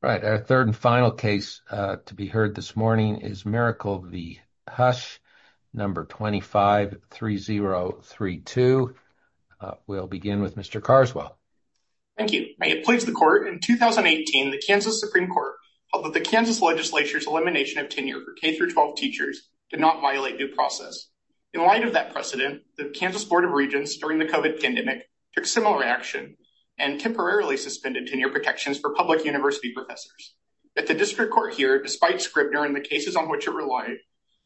Right, our third and final case to be heard this morning is Miracle v. Hush, number 253032. We'll begin with Mr. Carswell. Thank you. May it please the Court, in 2018, the Kansas Supreme Court held that the Kansas legislature's elimination of tenure for K-12 teachers did not violate due process. In light of that precedent, the Kansas Board of Regents, during the COVID pandemic, took similar action and temporarily suspended tenure protections for public university professors. Yet the district court here, despite Scribner and the cases on which it relied,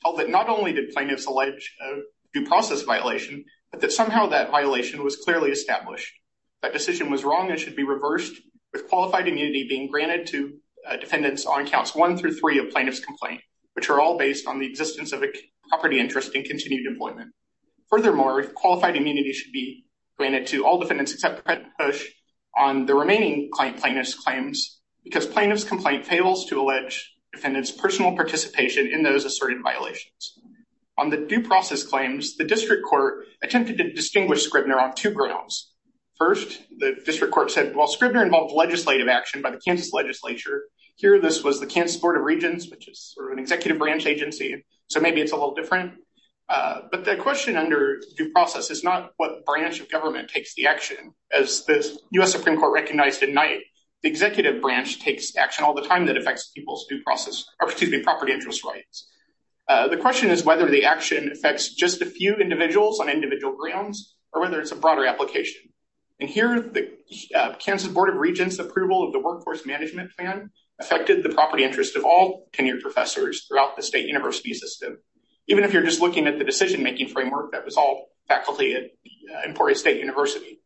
held that not only did plaintiffs allege a due process violation, but that somehow that violation was clearly established. That decision was wrong and should be reversed, with qualified immunity being granted to defendants on counts one through three of plaintiff's complaint, which are all based on the existence of a property interest and continued employment. Furthermore, qualified immunity should be granted to all defendants except Hush on the remaining plaintiff's claims, because plaintiff's complaint fails to allege defendants' personal participation in those asserted violations. On the due process claims, the district court attempted to distinguish Scribner on two grounds. First, the district court said, well, Scribner involved legislative action by the Kansas legislature. Here, this was the Kansas Board of Regents, which is sort of an executive branch agency, so maybe it's a little As the U.S. Supreme Court recognized at night, the executive branch takes action all the time that affects people's due process, or excuse me, property interest rights. The question is whether the action affects just a few individuals on individual grounds, or whether it's a broader application. And here, the Kansas Board of Regents' approval of the workforce management plan affected the property interest of all tenured professors throughout the state university system, even if you're just looking at the decision-making framework that was all faculty at Emporia State University.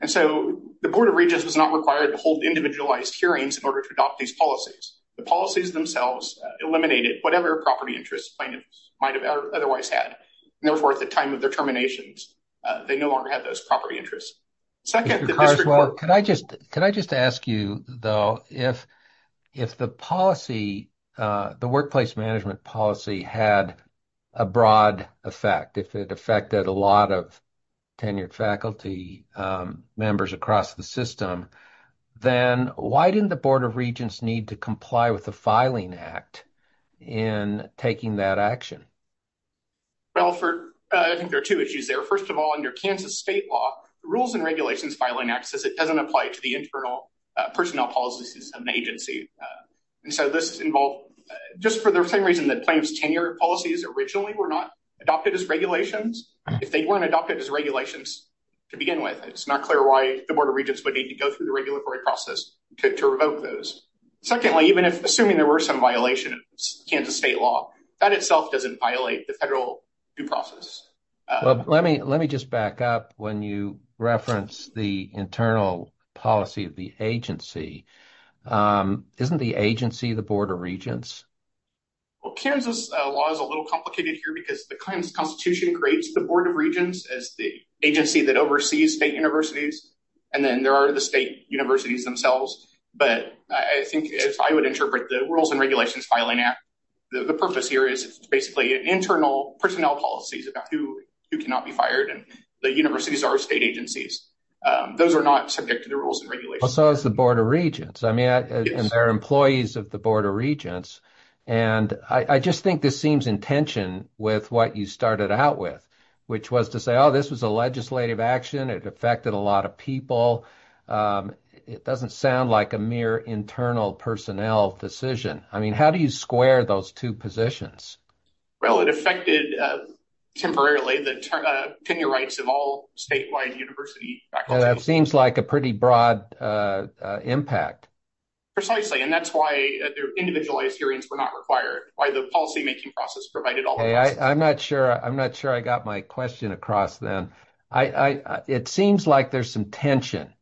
And so, the Board of Regents was not required to hold individualized hearings in order to adopt these policies. The policies themselves eliminated whatever property interest plaintiffs might have otherwise had, and therefore, at the time of their terminations, they no longer had those property interests. Second, the district court- Can I just ask you, though, if the policy, the workplace management policy, had a broad effect, if it affected a lot of tenured faculty members across the system, then why didn't the Board of Regents need to comply with the Filing Act in taking that action? Well, for, I think there are two issues there. First of all, under Kansas state law, the Rules and Regulations Filing Act says it doesn't apply to the internal personnel policies of an agency. And so, this involved, just for the same reason that plaintiffs' tenure policies originally were not adopted as regulations, if they weren't adopted as regulations to begin with, it's not clear why the Board of Regents would need to go through the regulatory process to revoke those. Secondly, even if, assuming there were some violations of Kansas state law, that itself doesn't violate the federal due process. Well, let me just back up when you reference the internal policy of the agency. Isn't the agency the Board of Regents? Well, Kansas law is a little complicated here because the Constitution creates the Board of Regents as the agency that oversees state universities, and then there are the state universities themselves. But I think, as I would interpret the Rules and Regulations Filing Act, the purpose here is basically internal personnel policies about who cannot be fired, and the universities are state agencies. Those are not subject to the Rules and Regulations. So is the Board of Regents. I mean, they're employees of the Board of Regents. And I just think this seems in tension with what you started out with, which was to say, oh, this was a legislative action. It affected a lot of people. It doesn't sound like a mere internal personnel decision. I mean, how do you square those two positions? Well, it affected temporarily the tenure rights of all statewide university faculties. That seems like a pretty broad impact. Precisely, and that's why individualized hearings were not required, why the policymaking process provided all the rights. I'm not sure I got my question across then. It seems like there's some tension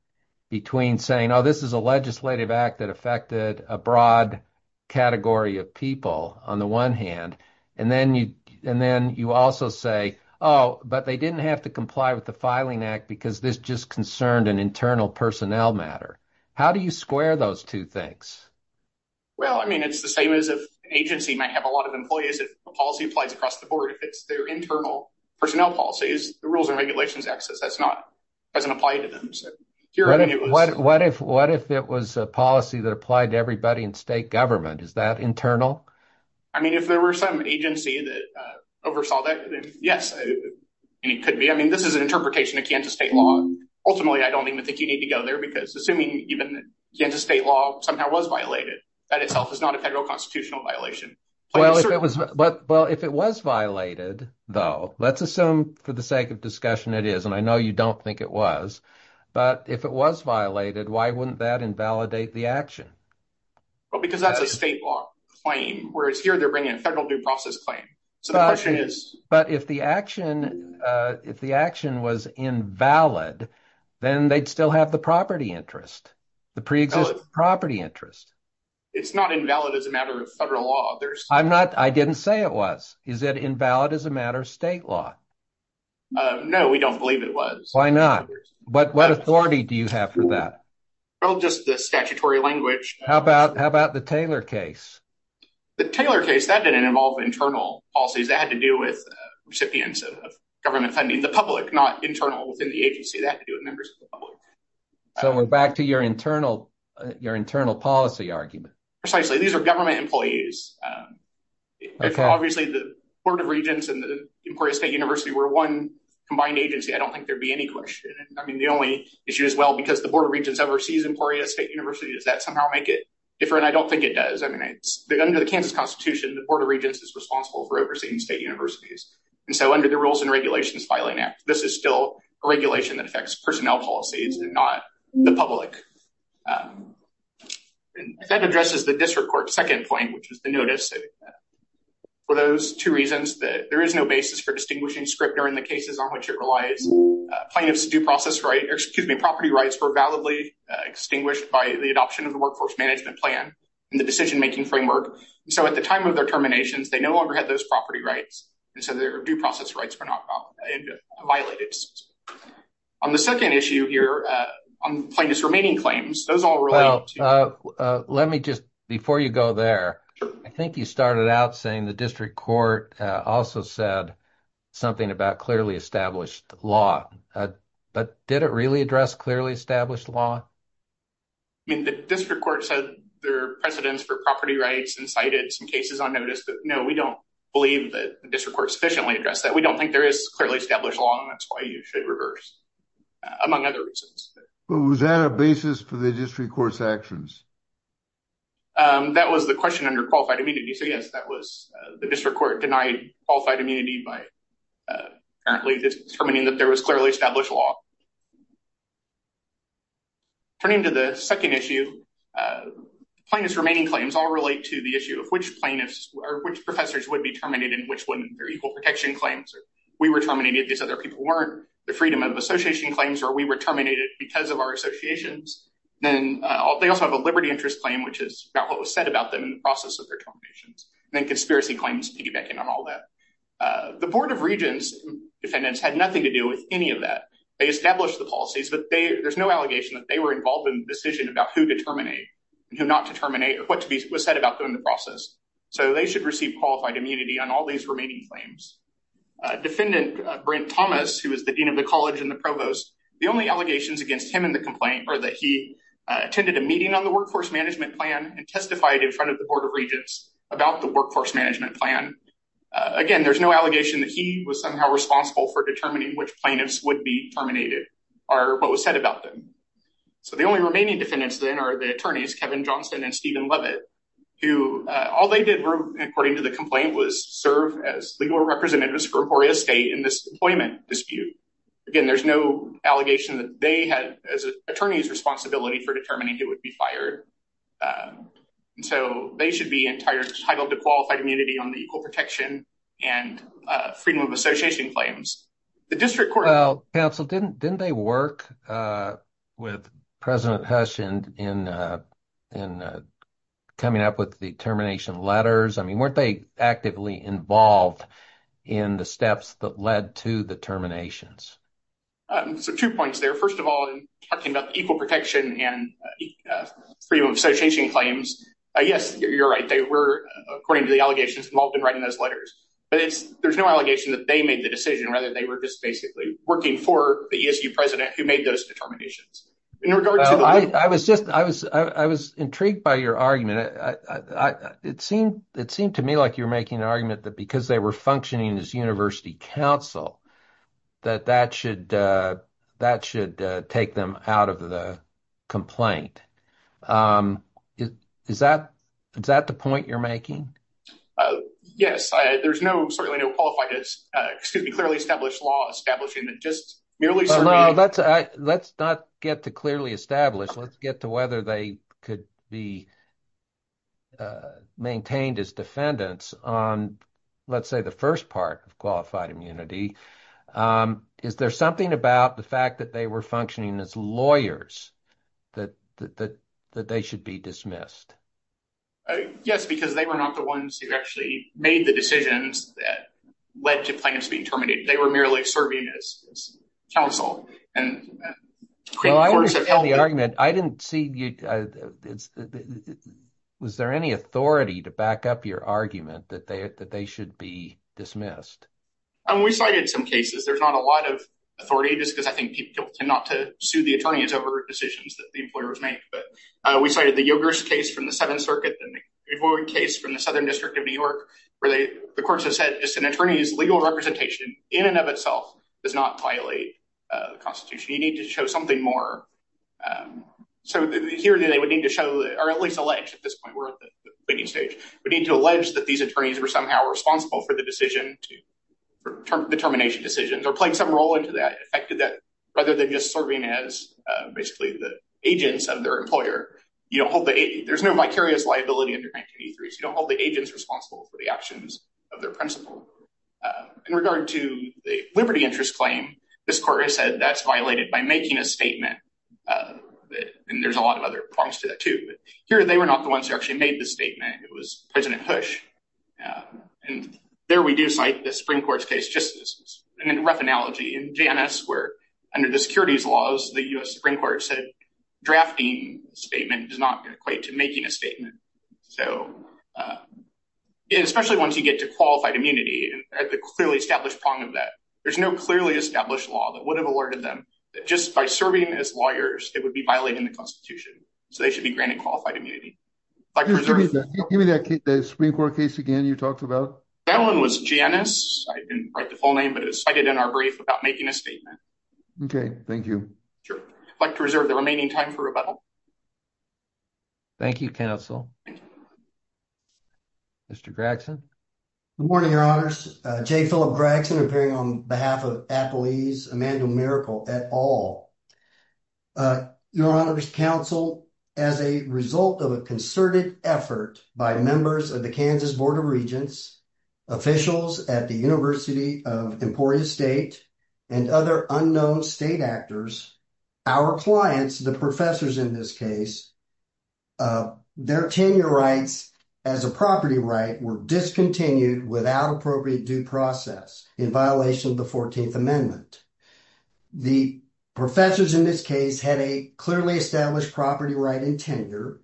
between saying, oh, this is a legislative act that affected a broad category of people, on the one hand, and then you also say, oh, but they didn't have to comply with the Filing Act because this just concerned an internal personnel matter. How do you square those two things? Well, I mean, it's the same as if an agency might have a lot of employees if a policy applies across the board. If it's their internal personnel policies, the Rules and Regulations Act doesn't apply to them. What if it was a policy that applied to everybody in state government? Is that internal? I mean, if there were some agency that oversaw that, yes, and it could be. I mean, this is an interpretation of Kansas state law. Ultimately, I don't even think you need to go there because assuming even Kansas state law somehow was violated, that itself is not a federal constitutional violation. Well, if it was violated, though, let's assume for the sake of discussion it is, and I know you don't think it was, but if it was violated, why wouldn't that invalidate the action? Well, because that's a state law claim, whereas here they're bringing a federal due process claim. So the question is... But if the action was invalid, then they'd still have the property interest, the pre-existing property interest. It's not invalid as a matter of federal law. I didn't say it was. Is it invalid as a matter of state law? No, we don't believe it was. Why not? What authority do you have for that? Well, just the statutory language. How about the Taylor case? The Taylor case, that didn't involve internal policies. That had to do with recipients of government funding, the public, not internal within the agency. That had to do with members of the public. So we're back to your internal policy argument. Precisely. These are government employees. Obviously, the Board of Regents and the state university were one combined agency. I don't think there'd be any question. I mean, the only issue as well, because the Board of Regents oversees Emporia State University, does that somehow make it different? I don't think it does. I mean, under the Kansas Constitution, the Board of Regents is responsible for overseeing state universities. And so under the Rules and Regulations Filing Act, this is still a regulation that affects personnel policies and not the public. That addresses the district court's second point, which is the notice. For those two reasons, there is no basis for distinguishing Scripner in the cases on which it relies. Plaintiffs' due process rights, excuse me, property rights, were validly extinguished by the adoption of the Workforce Management Plan and the decision-making framework. So at the time of their terminations, they no longer had those property rights. And so their due process rights were not violated. On the second issue here, plaintiffs' remaining claims, those all relate. Let me just, before you go there, I think you started out saying the district court also said something about clearly established law. But did it really address clearly established law? I mean, the district court said there are precedents for property rights and cited some cases on notice, but no, we don't believe that the district court sufficiently addressed that. We don't think there is clearly established law, and that's why you should reverse, among other reasons. But was that a basis for the district court's actions? That was the question under qualified immunity. So yes, that was, the district court denied qualified immunity by apparently determining that there was clearly established law. Turning to the second issue, plaintiffs' remaining claims all relate to the issue of which plaintiffs or which professors would be terminated and which wouldn't. They're equal protection claims. We were terminated, these other people weren't. The freedom of association claims are we were terminated because of our associations. Then they also have a liberty interest claim, which is about what was said about them in the process of their terminations. Then conspiracy claims piggybacking on all that. The Board of Regents defendants had nothing to do with any of that. They established the policies, but there's no allegation that they were involved in the decision about who to terminate and who not to terminate or what was said about them in the process. So they should receive qualified immunity on all these remaining claims. Defendant Brent Thomas, who is the dean of the college and the provost, the only allegations against him in the complaint are that he attended a meeting on the workforce management plan and testified in front of the Board of Regents about the workforce management plan. Again, there's no allegation that he was somehow responsible for determining which plaintiffs would be terminated or what was said about them. So the only remaining defendants then are the attorneys, Kevin Johnson and Stephen Leavitt, who all they did were, according to the complaint, was serve as legal representatives for Emporia State in this employment dispute. Again, there's no allegation that they had, as attorneys, responsibility for determining who would be fired. So they should be entitled to qualified immunity on the equal protection and freedom of association claims. The district counsel didn't, didn't they work with President Hush in coming up with the termination letters? I mean, weren't they actively involved in the steps that led to the terminations? So two points there. First of all, talking about equal protection and freedom of association claims. Yes, you're right. They were, according to the allegations, involved in writing those letters. But it's, there's no allegation that they made the decision rather than they were just basically working for the ESU president who made those determinations. I was just, I was, I was intrigued by your argument. It seemed, it seemed to me like you're making an argument that because they were functioning as university counsel, that that should, that should take them out of the complaint. Is that, is that the point you're making? Yes, there's no, certainly no qualified, excuse me, clearly established law establishing that just merely. No, that's, let's not get to clearly established. Let's get to whether they could be maintained as defendants on, let's say, the first part of qualified immunity. Is there something about the fact that they were functioning as lawyers that, that, that, that they should be dismissed? Yes, because they were not the ones who actually made the decisions that led to plans being terminated. They were merely serving as counsel. Well, I understand the argument. I didn't see, was there any authority to back up your argument that they, that they should be dismissed? We cited some cases. There's not a lot of authority, just because I think people tend not to sue the attorneys over decisions that the employers make. But we cited the Yogers case from the Seventh Circuit, the case from the Southern District of New York, where they, the courts have said just an attorney's legal representation in and of itself does not violate the Constitution. You need to show something more. So here they would need to show, or at least allege at this point, we're at the bidding stage, we need to allege that these attorneys were somehow responsible for the decision to, for the termination decisions, or playing some role into that, affected that, rather than just serving as basically the agents of their employer. You don't hold the, there's no vicarious liability under 1983, so you don't hold the agents responsible for the actions of their principal. In regard to the liberty interest claim, this court has said that's violated by making a statement, and there's a lot of other prongs to that too, but here they were not the ones who actually made the statement. It was President Hush. And there we do cite the Supreme Court's case, just as a rough analogy, in Janus, where under the securities laws, the U.S. Supreme Court said, drafting statement does not equate to making a statement. So, especially once you get to qualified immunity, at the clearly established prong of that, there's no clearly established law that would have alerted them that just by serving as lawyers, it would be violating the Constitution. So they should be granted qualified immunity. Give me that Supreme Court case again you talked about. That one was Janus. I didn't write the full name, but it's cited in our brief about making a statement. Okay, thank you. Sure. I'd like to reserve the remaining time for rebuttal. Thank you, counsel. Thank you. Mr. Gragson. Good morning, your honors. Jay Philip Gragson, appearing on behalf of Applease, Immanuel Miracle, et al. Your honors, counsel, as a result of a concerted effort by members of the Kansas Board of Regents, officials at the University of Emporia State, and other unknown state actors, our clients, the professors in this case, their tenure rights as a property right were discontinued without appropriate due process in violation of the 14th Amendment. The professors in this case had a clearly established property right in tenure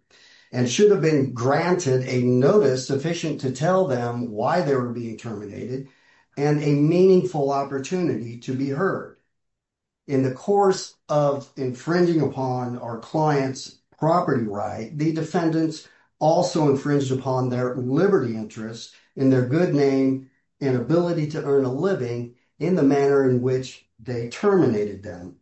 and should have been granted a notice sufficient to tell them why they were being terminated and a meaningful opportunity to be heard. In the course of infringing upon our client's property right, the defendants also infringed upon their liberty interest in their good name and ability to earn a living in the manner in which they terminated them.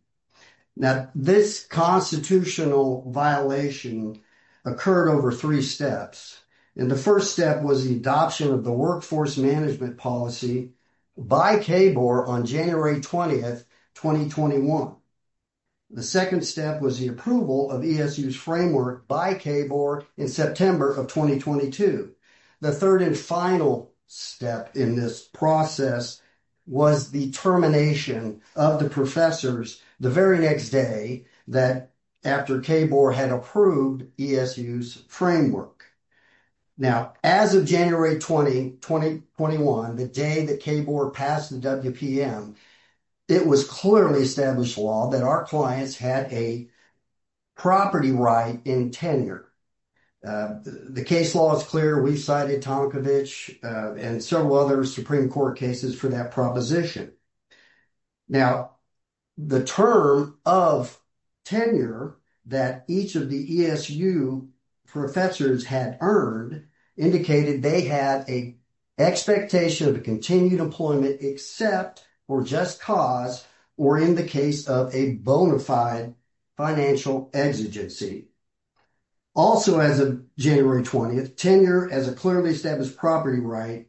Now, this constitutional violation occurred over three steps, and the first step was the adoption of the workforce management policy by KBOR on January 20, 2021. The second step was the approval of ESU's framework by KBOR in September of 2022. The third and final step in this process was the termination of the professors the very next day that after KBOR had approved ESU's framework. Now, as of January 20, 2021, the day that KBOR passed the WPM, it was clearly established law that our clients had a property right in tenure. The case law is clear. We cited Tomkovich and several other Supreme Court cases for that proposition. Now, the term of tenure that each of the ESU professors had earned indicated they had a expectation of continued employment except for just cause or in the case of a bona fide financial exigency. Also, as of January 20, tenure as a clearly established property right,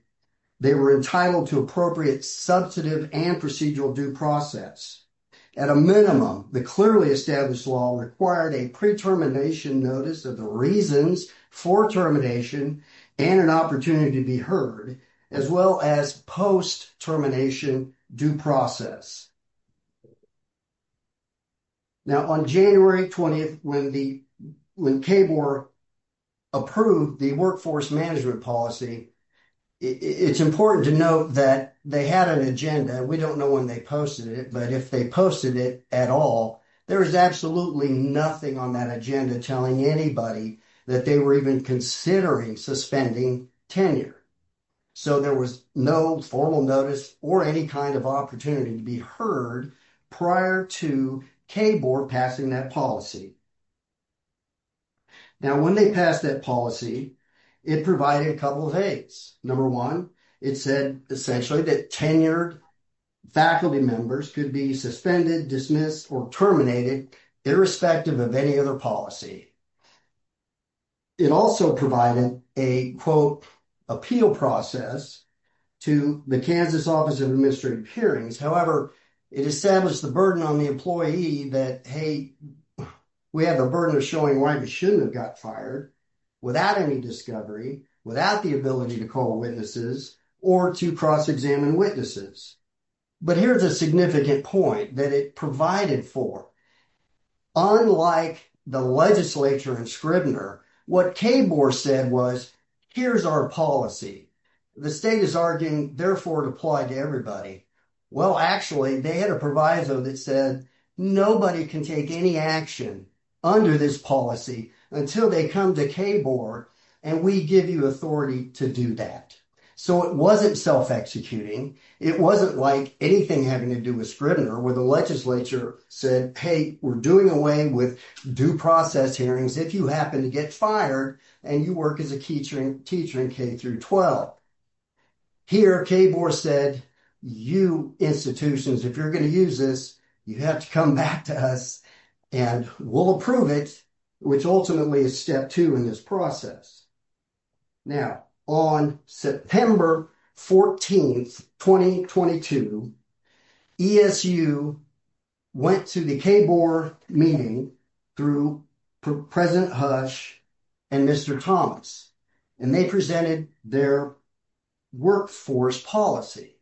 they were entitled to appropriate substantive and procedural due process. At a minimum, the clearly established law required a pre-termination notice of the reasons for termination and an opportunity to be heard as well as post-termination due process. Now, on January 20, when KBOR approved the workforce management policy, it's important to note that they had an agenda. We don't know when they posted it, but if they at all, there was absolutely nothing on that agenda telling anybody that they were even considering suspending tenure. So, there was no formal notice or any kind of opportunity to be heard prior to KBOR passing that policy. Now, when they passed that policy, it provided a couple of Number one, it said essentially that tenured faculty members could be suspended, dismissed, or terminated irrespective of any other policy. It also provided a, quote, appeal process to the Kansas Office of Administrative Hearings. However, it established the burden on the employee that, hey, we have a burden of showing why you shouldn't have got fired without any discovery, without the ability to call witnesses, or to cross-examine witnesses. But here's a significant point that it provided for. Unlike the legislature and Scribner, what KBOR said was, here's our policy. The state is arguing, therefore, it applied to everybody. Well, actually, they had a proviso that said nobody can take any action under this policy until they come to KBOR and we give you authority to do that. So, it wasn't self-executing. It wasn't like anything having to do with Scribner, where the legislature said, hey, we're doing away with due process hearings if you happen to get fired and you work as a teacher in K through 12. Here, KBOR said, you institutions, if you're going to use this, you have to come back to us and we'll approve it, which ultimately is step two in this process. Now, on September 14, 2022, ESU went to the KBOR meeting through President Hush and Mr. Thomas, and they presented their workforce policy.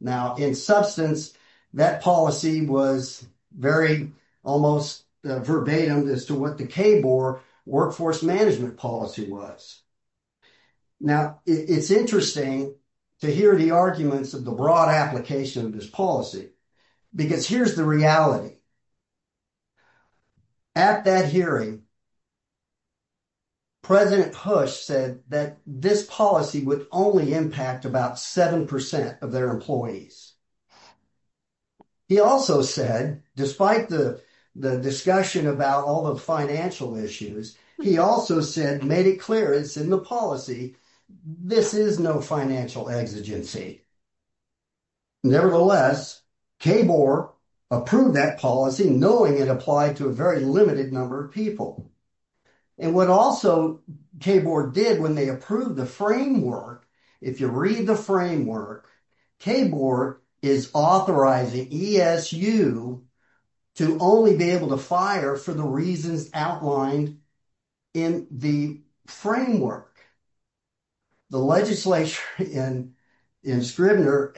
Now, in substance, that policy was very almost verbatim as to what the KBOR workforce management policy was. Now, it's interesting to hear the arguments of the broad application of this policy, because here's the reality. At that hearing, President Hush said that this policy would only impact about 7% of their employees. He also said, despite the discussion about all the financial issues, he also said, made it clear it's in the policy. This is no financial exigency. Nevertheless, KBOR approved that policy, knowing it applied to a very limited number of people. And what also KBOR did when they approved the framework, if you read the framework, KBOR is authorizing ESU to only be able to fire for the reasons outlined in the framework. The legislation in Scribner,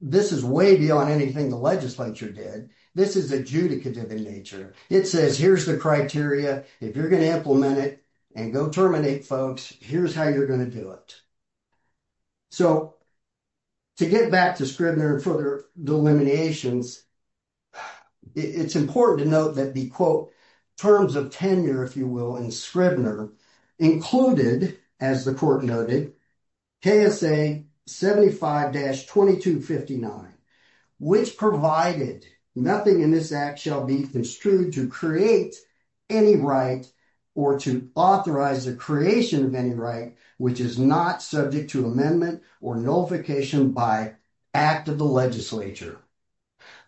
this is way beyond anything the legislature did. This is adjudicative in nature. It says, here's the criteria. If you're going to implement it and go terminate folks, here's how you're going to do it. So, to get back to Scribner and further delineations, it's important to note that the, quote, terms of tenure, if you will, in Scribner included, as the court noted, KSA 75-2259, which provided nothing in this act shall be construed to create any right or to authorize the creation of any right which is not subject to amendment or nullification by act of the legislature.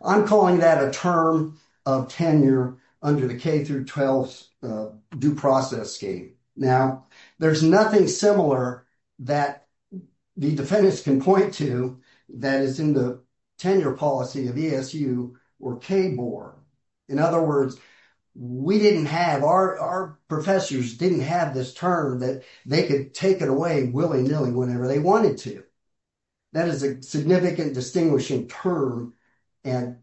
I'm calling that a term of tenure under the K-12 due process scheme. Now, there's nothing similar that the defendants can point to that is in the tenure policy of ESU or KBOR. In other words, we didn't have, our professors didn't have this term that they could take it away willy-nilly whenever they wanted to. That is a significant distinguishing term and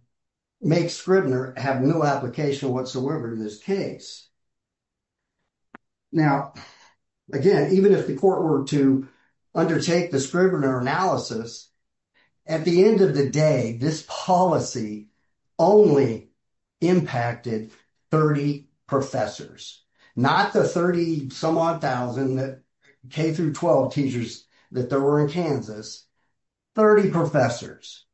makes Scribner have no application whatsoever in this case. Now, again, even if the court were to undertake the Scribner analysis, at the end of the day, this policy only impacted 30 professors, not the 30-some-odd thousand K-12 teachers that there were in Kansas. 30 professors.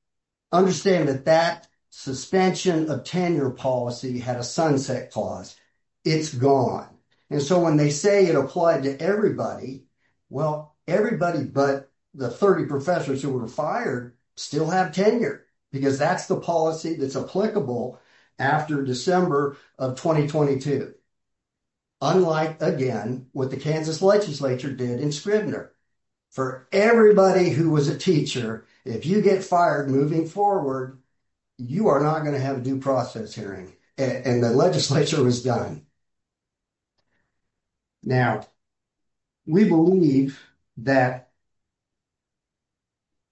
Understand that that suspension of tenure policy had a sunset clause. It's gone, and so when they say it applied to everybody, well, everybody but the 30 professors who were fired still have tenure because that's the policy that's applicable after December of 2022, unlike, again, what the Kansas legislature did in Scribner. For everybody who was a teacher, if you get fired moving forward, you are not going to have a due process hearing, and the legislature was done. Now, we believe that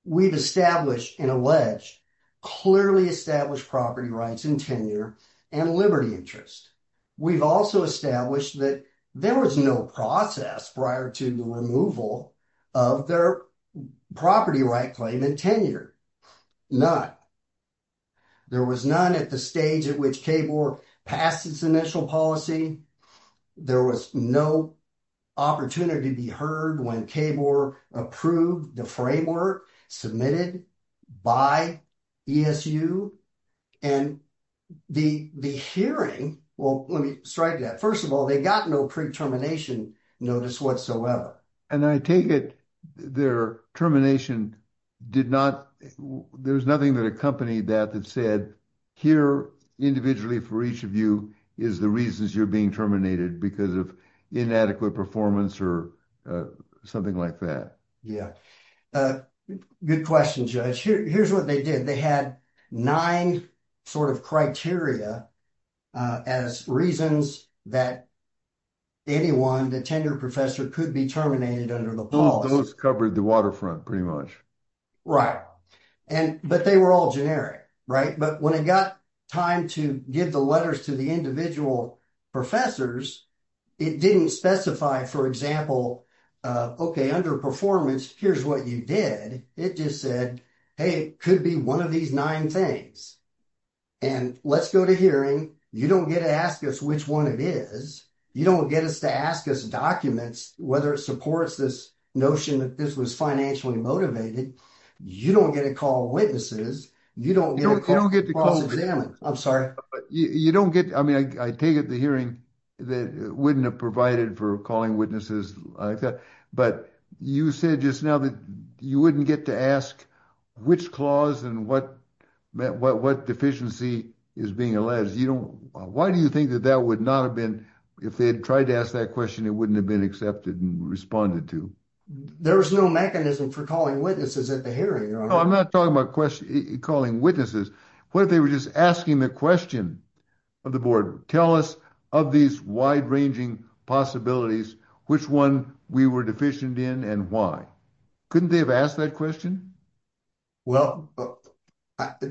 we've established and alleged, clearly established property rights in tenure and liberty interest. We've also established that there was no process prior to the removal of their property right claim in tenure. None. There was none at the stage at which KBOR passed its initial policy. There was no opportunity to be heard when KBOR approved the framework submitted by ESU, and the hearing, well, let me strike that. First of all, they got no pre-termination notice whatsoever. And I take it their termination did not, there was nothing that accompanied that that said here individually for each of you is the reasons you're being terminated because of inadequate performance or something like that. Yeah, good question, Judge. Here's what they did. They had nine sort of criteria as reasons that anyone, the tenure professor, could be terminated under the policy. Those covered the waterfront, pretty much. Right, but they were all generic, right? But when it got time to give the letters to the individual professors, it didn't specify, for example, okay, under performance, here's what you did. It just said, hey, it could be one of these nine things. And let's go to hearing. You don't get to ask us which one it is. You don't get us to ask us documents, whether it supports this notion that this was financially motivated. You don't get to call witnesses. You don't get to cross-examine. I'm sorry. You don't get, I mean, I take it the hearing wouldn't have provided for calling which clause and what deficiency is being alleged. Why do you think that that would not have been, if they had tried to ask that question, it wouldn't have been accepted and responded to? There was no mechanism for calling witnesses at the hearing. I'm not talking about calling witnesses. What if they were just asking the question of the board? Tell us of these wide-ranging possibilities, which one we were deficient in and why. Couldn't they have asked that question? Well,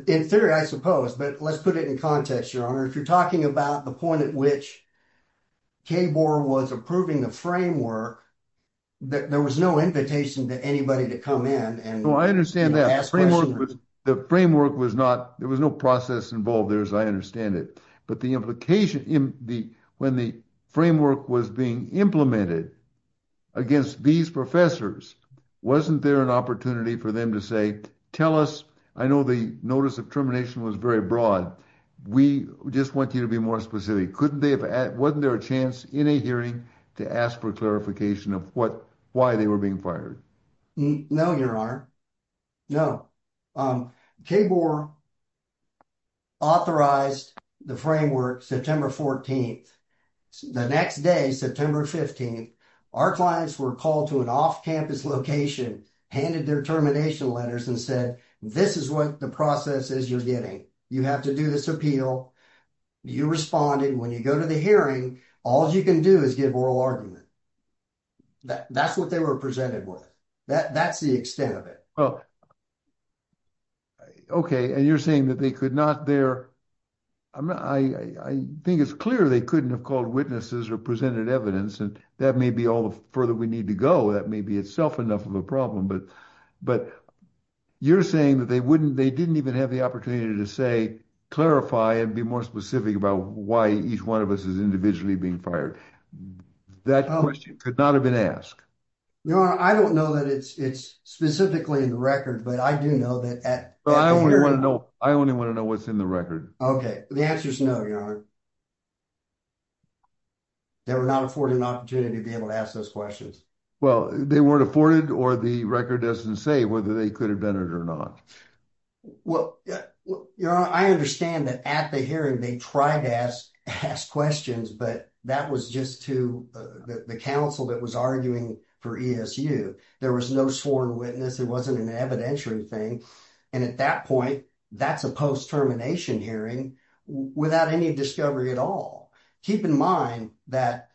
in theory, I suppose, but let's put it in context, Your Honor. If you're talking about the point at which KBOR was approving the framework, there was no invitation to anybody to come in and ask questions. No, I understand that. The framework was not, there was no process involved there, I understand it. But the implication in the, when the framework was being implemented against these professors, wasn't there an opportunity for them to say, tell us, I know the notice of termination was very broad. We just want you to be more specific. Couldn't they have, wasn't there a chance in a hearing to ask for clarification of what, why they were being fired? No, Your Honor. No. KBOR authorized the framework September 14th. The next day, September 15th, our clients were called to an off-campus location, handed their termination letters and said, this is what the process is you're getting. You have to do this appeal. You responded. When you go to the hearing, all you can do is give oral argument. That's what they were presented with. That's the extent of it. Well, okay. And you're saying that they could not there, I think it's clear they couldn't have called witnesses or presented evidence. And that may be all the further we need to go. That may be itself enough of a problem, but you're saying that they wouldn't, they didn't even have the opportunity to say, clarify and be more specific about why each one of us is individually being fired. That question could not have been asked. Your Honor, I don't know that it's, it's specifically in the record, but I do know that. I only want to know, I only want to know what's in the record. Okay. The answer is no, Your Honor. They were not afforded an opportunity to be able to ask those questions. Well, they weren't afforded or the record doesn't say whether they could have done it or not. Well, Your Honor, I understand that at the hearing, they tried to ask, ask questions, but that was just to the council that was arguing for ESU. There was no sworn witness. It wasn't an evidentiary thing. And at that point, that's a post-termination hearing without any discovery at all. Keep in mind that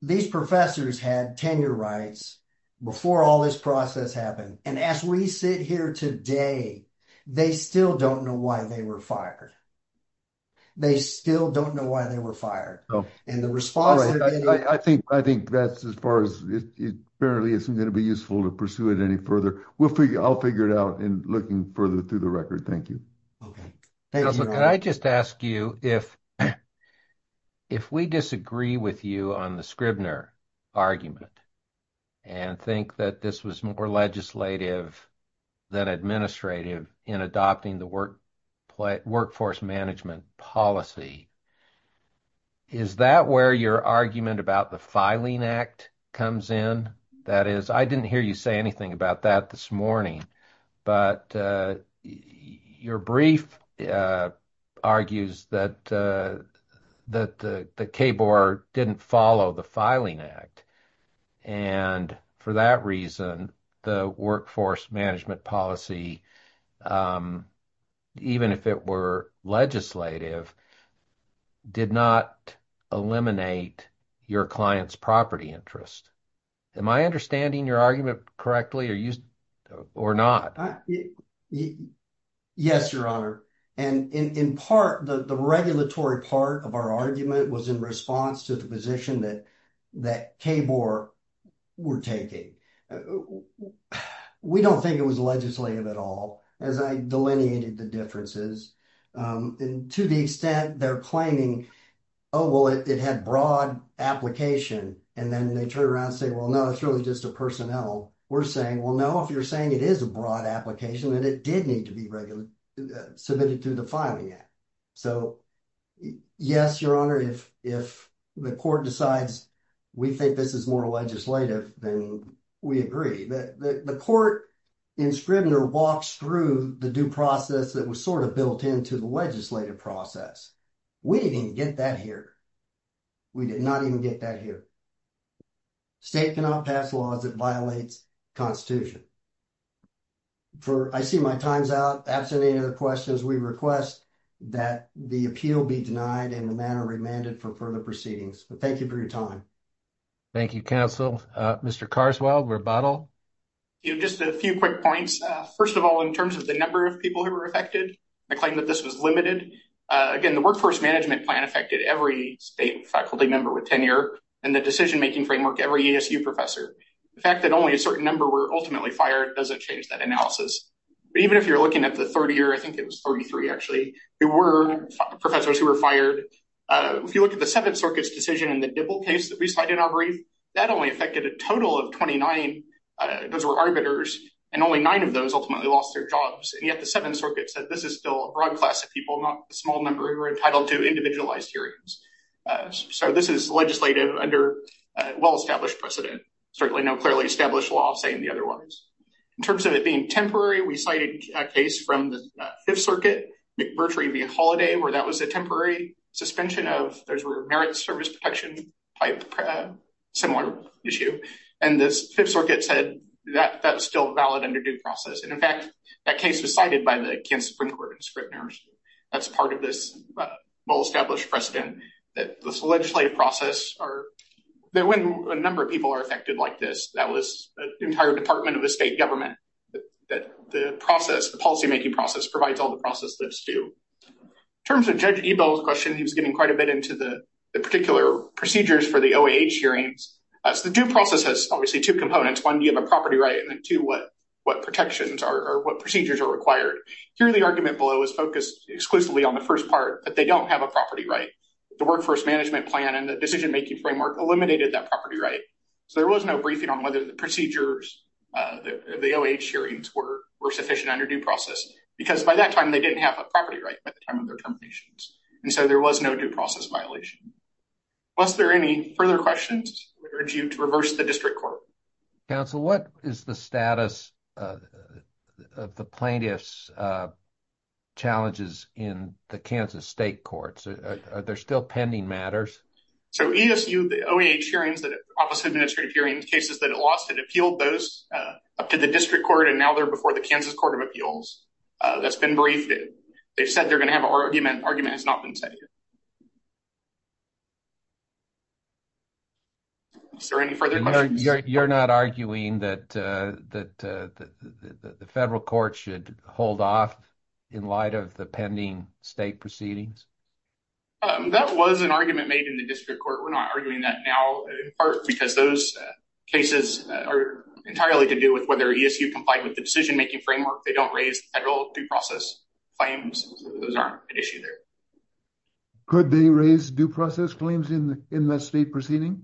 these professors had tenure rights before all this process happened. And as we sit here today, they still don't know why they were fired. They still don't know why they were fired. And the response. I think, I think that's as far as it apparently isn't going to be useful to pursue it any further. We'll figure, I'll figure it out in looking further through the record. Thank you. Okay. Can I just ask you if, if we disagree with you on the Scribner argument and think that this was more legislative than administrative in adopting the workforce management policy, is that where your argument about the filing act comes in? That is, I didn't hear you say anything about that this morning, but your brief argues that, that the KBOR didn't follow the filing act. And for that reason, the workforce management policy, even if it were legislative, did not eliminate your client's property interest. Am I understanding your argument correctly or used or not? Yes, your honor. And in part, the regulatory part of our argument was in response to the position that, that KBOR were taking. We don't think it was legislative at all as I delineated the differences. And to the extent they're claiming, oh, well, it had broad application. And then they turn around and say, well, no, it's really just a personnel. We're saying, well, no, if you're saying it is a broad application that it did need to be regularly submitted to the filing act. So yes, your honor, if the court decides we think this is more legislative, then we agree. The court in Scribner walks through the due process that was sort of built into the legislative process. We didn't even get that here. We did not even get that here. State cannot pass laws that violates constitution. For, I see my time's out. After the end of the questions, we request that the appeal be denied in the manner remanded for further proceedings. But thank you for your time. Thank you, counsel. Mr. Carswell, rebuttal. Just a few quick points. First of all, in terms of the number of people who were affected, I claim that this was limited. Again, the workforce management plan affected every state faculty member with tenure and the decision-making framework, every ESU professor. The fact that only a certain number were ultimately fired doesn't change that analysis. But even if you're looking at the third year, I think it was 33, actually, there were professors who were fired. If you look at the Seventh Circuit's decision in the Dibble case that we cited in our brief, that only affected a total of 29. Those were arbiters, and only nine of those ultimately lost their jobs. And yet the Seventh Circuit said, this is still a broad class of people, not a small number who were entitled to individualized hearings. So this is legislative under well-established precedent. Certainly no clearly established law saying the other words. In terms of it being temporary, we cited a case from the Fifth Circuit, McMurtry v. Holliday, where that was a temporary suspension of, those were merit service protection type similar issue. And the Fifth Circuit said that that's still a valid underdue process. And in fact, that case was cited by the Kansas Supreme Court in Scribner. That's part of this well-established precedent that this legislative process, when a number of people are affected like this, that was the entire department of the state government, that the process, the policymaking process provides all the process that's due. In terms of Judge Ebel's question, he was getting quite a bit into the particular procedures for the OAH hearings. So the due process has obviously two components. One, you have a property right, and then two, what protections or what procedures are required. Here, the argument below is focused exclusively on the first part, that they don't have a property right. The workforce management plan and the decision-making framework eliminated that property right. So there was no briefing on whether the procedures, the OAH hearings were sufficient under due process. Because by that time, they didn't have a property right by the time of their terminations. And so there was no due process violation. Was there any further questions? I urge you to reverse the district court. Counsel, what is the status of the plaintiff's challenges in the Kansas state courts? Are there still pending matters? So ESU, the OAH hearings, the office of administrative hearings, cases that it lost, it appealed those up to the district court, and now they're before the Kansas court of appeals. That's been briefed. They've said they're going to have an argument. Argument has not been said here. Is there any further questions? You're not arguing that the federal court should hold off in light of the pending state proceedings? That was an argument made in the district court. We're not arguing that now, in part because those cases are entirely to do with whether ESU complied with the decision-making framework. They don't raise federal due process claims. Those aren't an issue there. Could they raise due process claims in the state proceeding?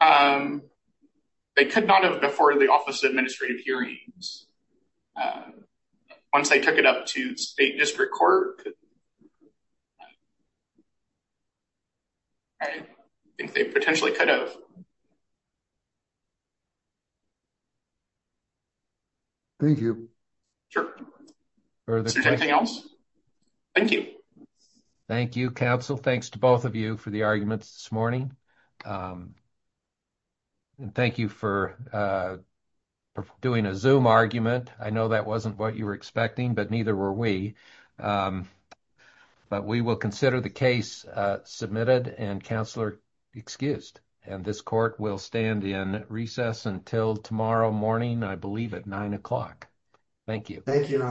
They could not have before the office of administrative hearings. Once they took it up to state district court, I think they potentially could have. Thank you. Thank you, counsel. Thanks to both of you for the arguments this morning. Thank you for doing a Zoom argument. I know that wasn't what you were expecting, but neither were we. We will consider the case submitted and counselor excused. This court will stand in recess until tomorrow morning, I believe at nine o'clock. Thank you. Thank you, your honor.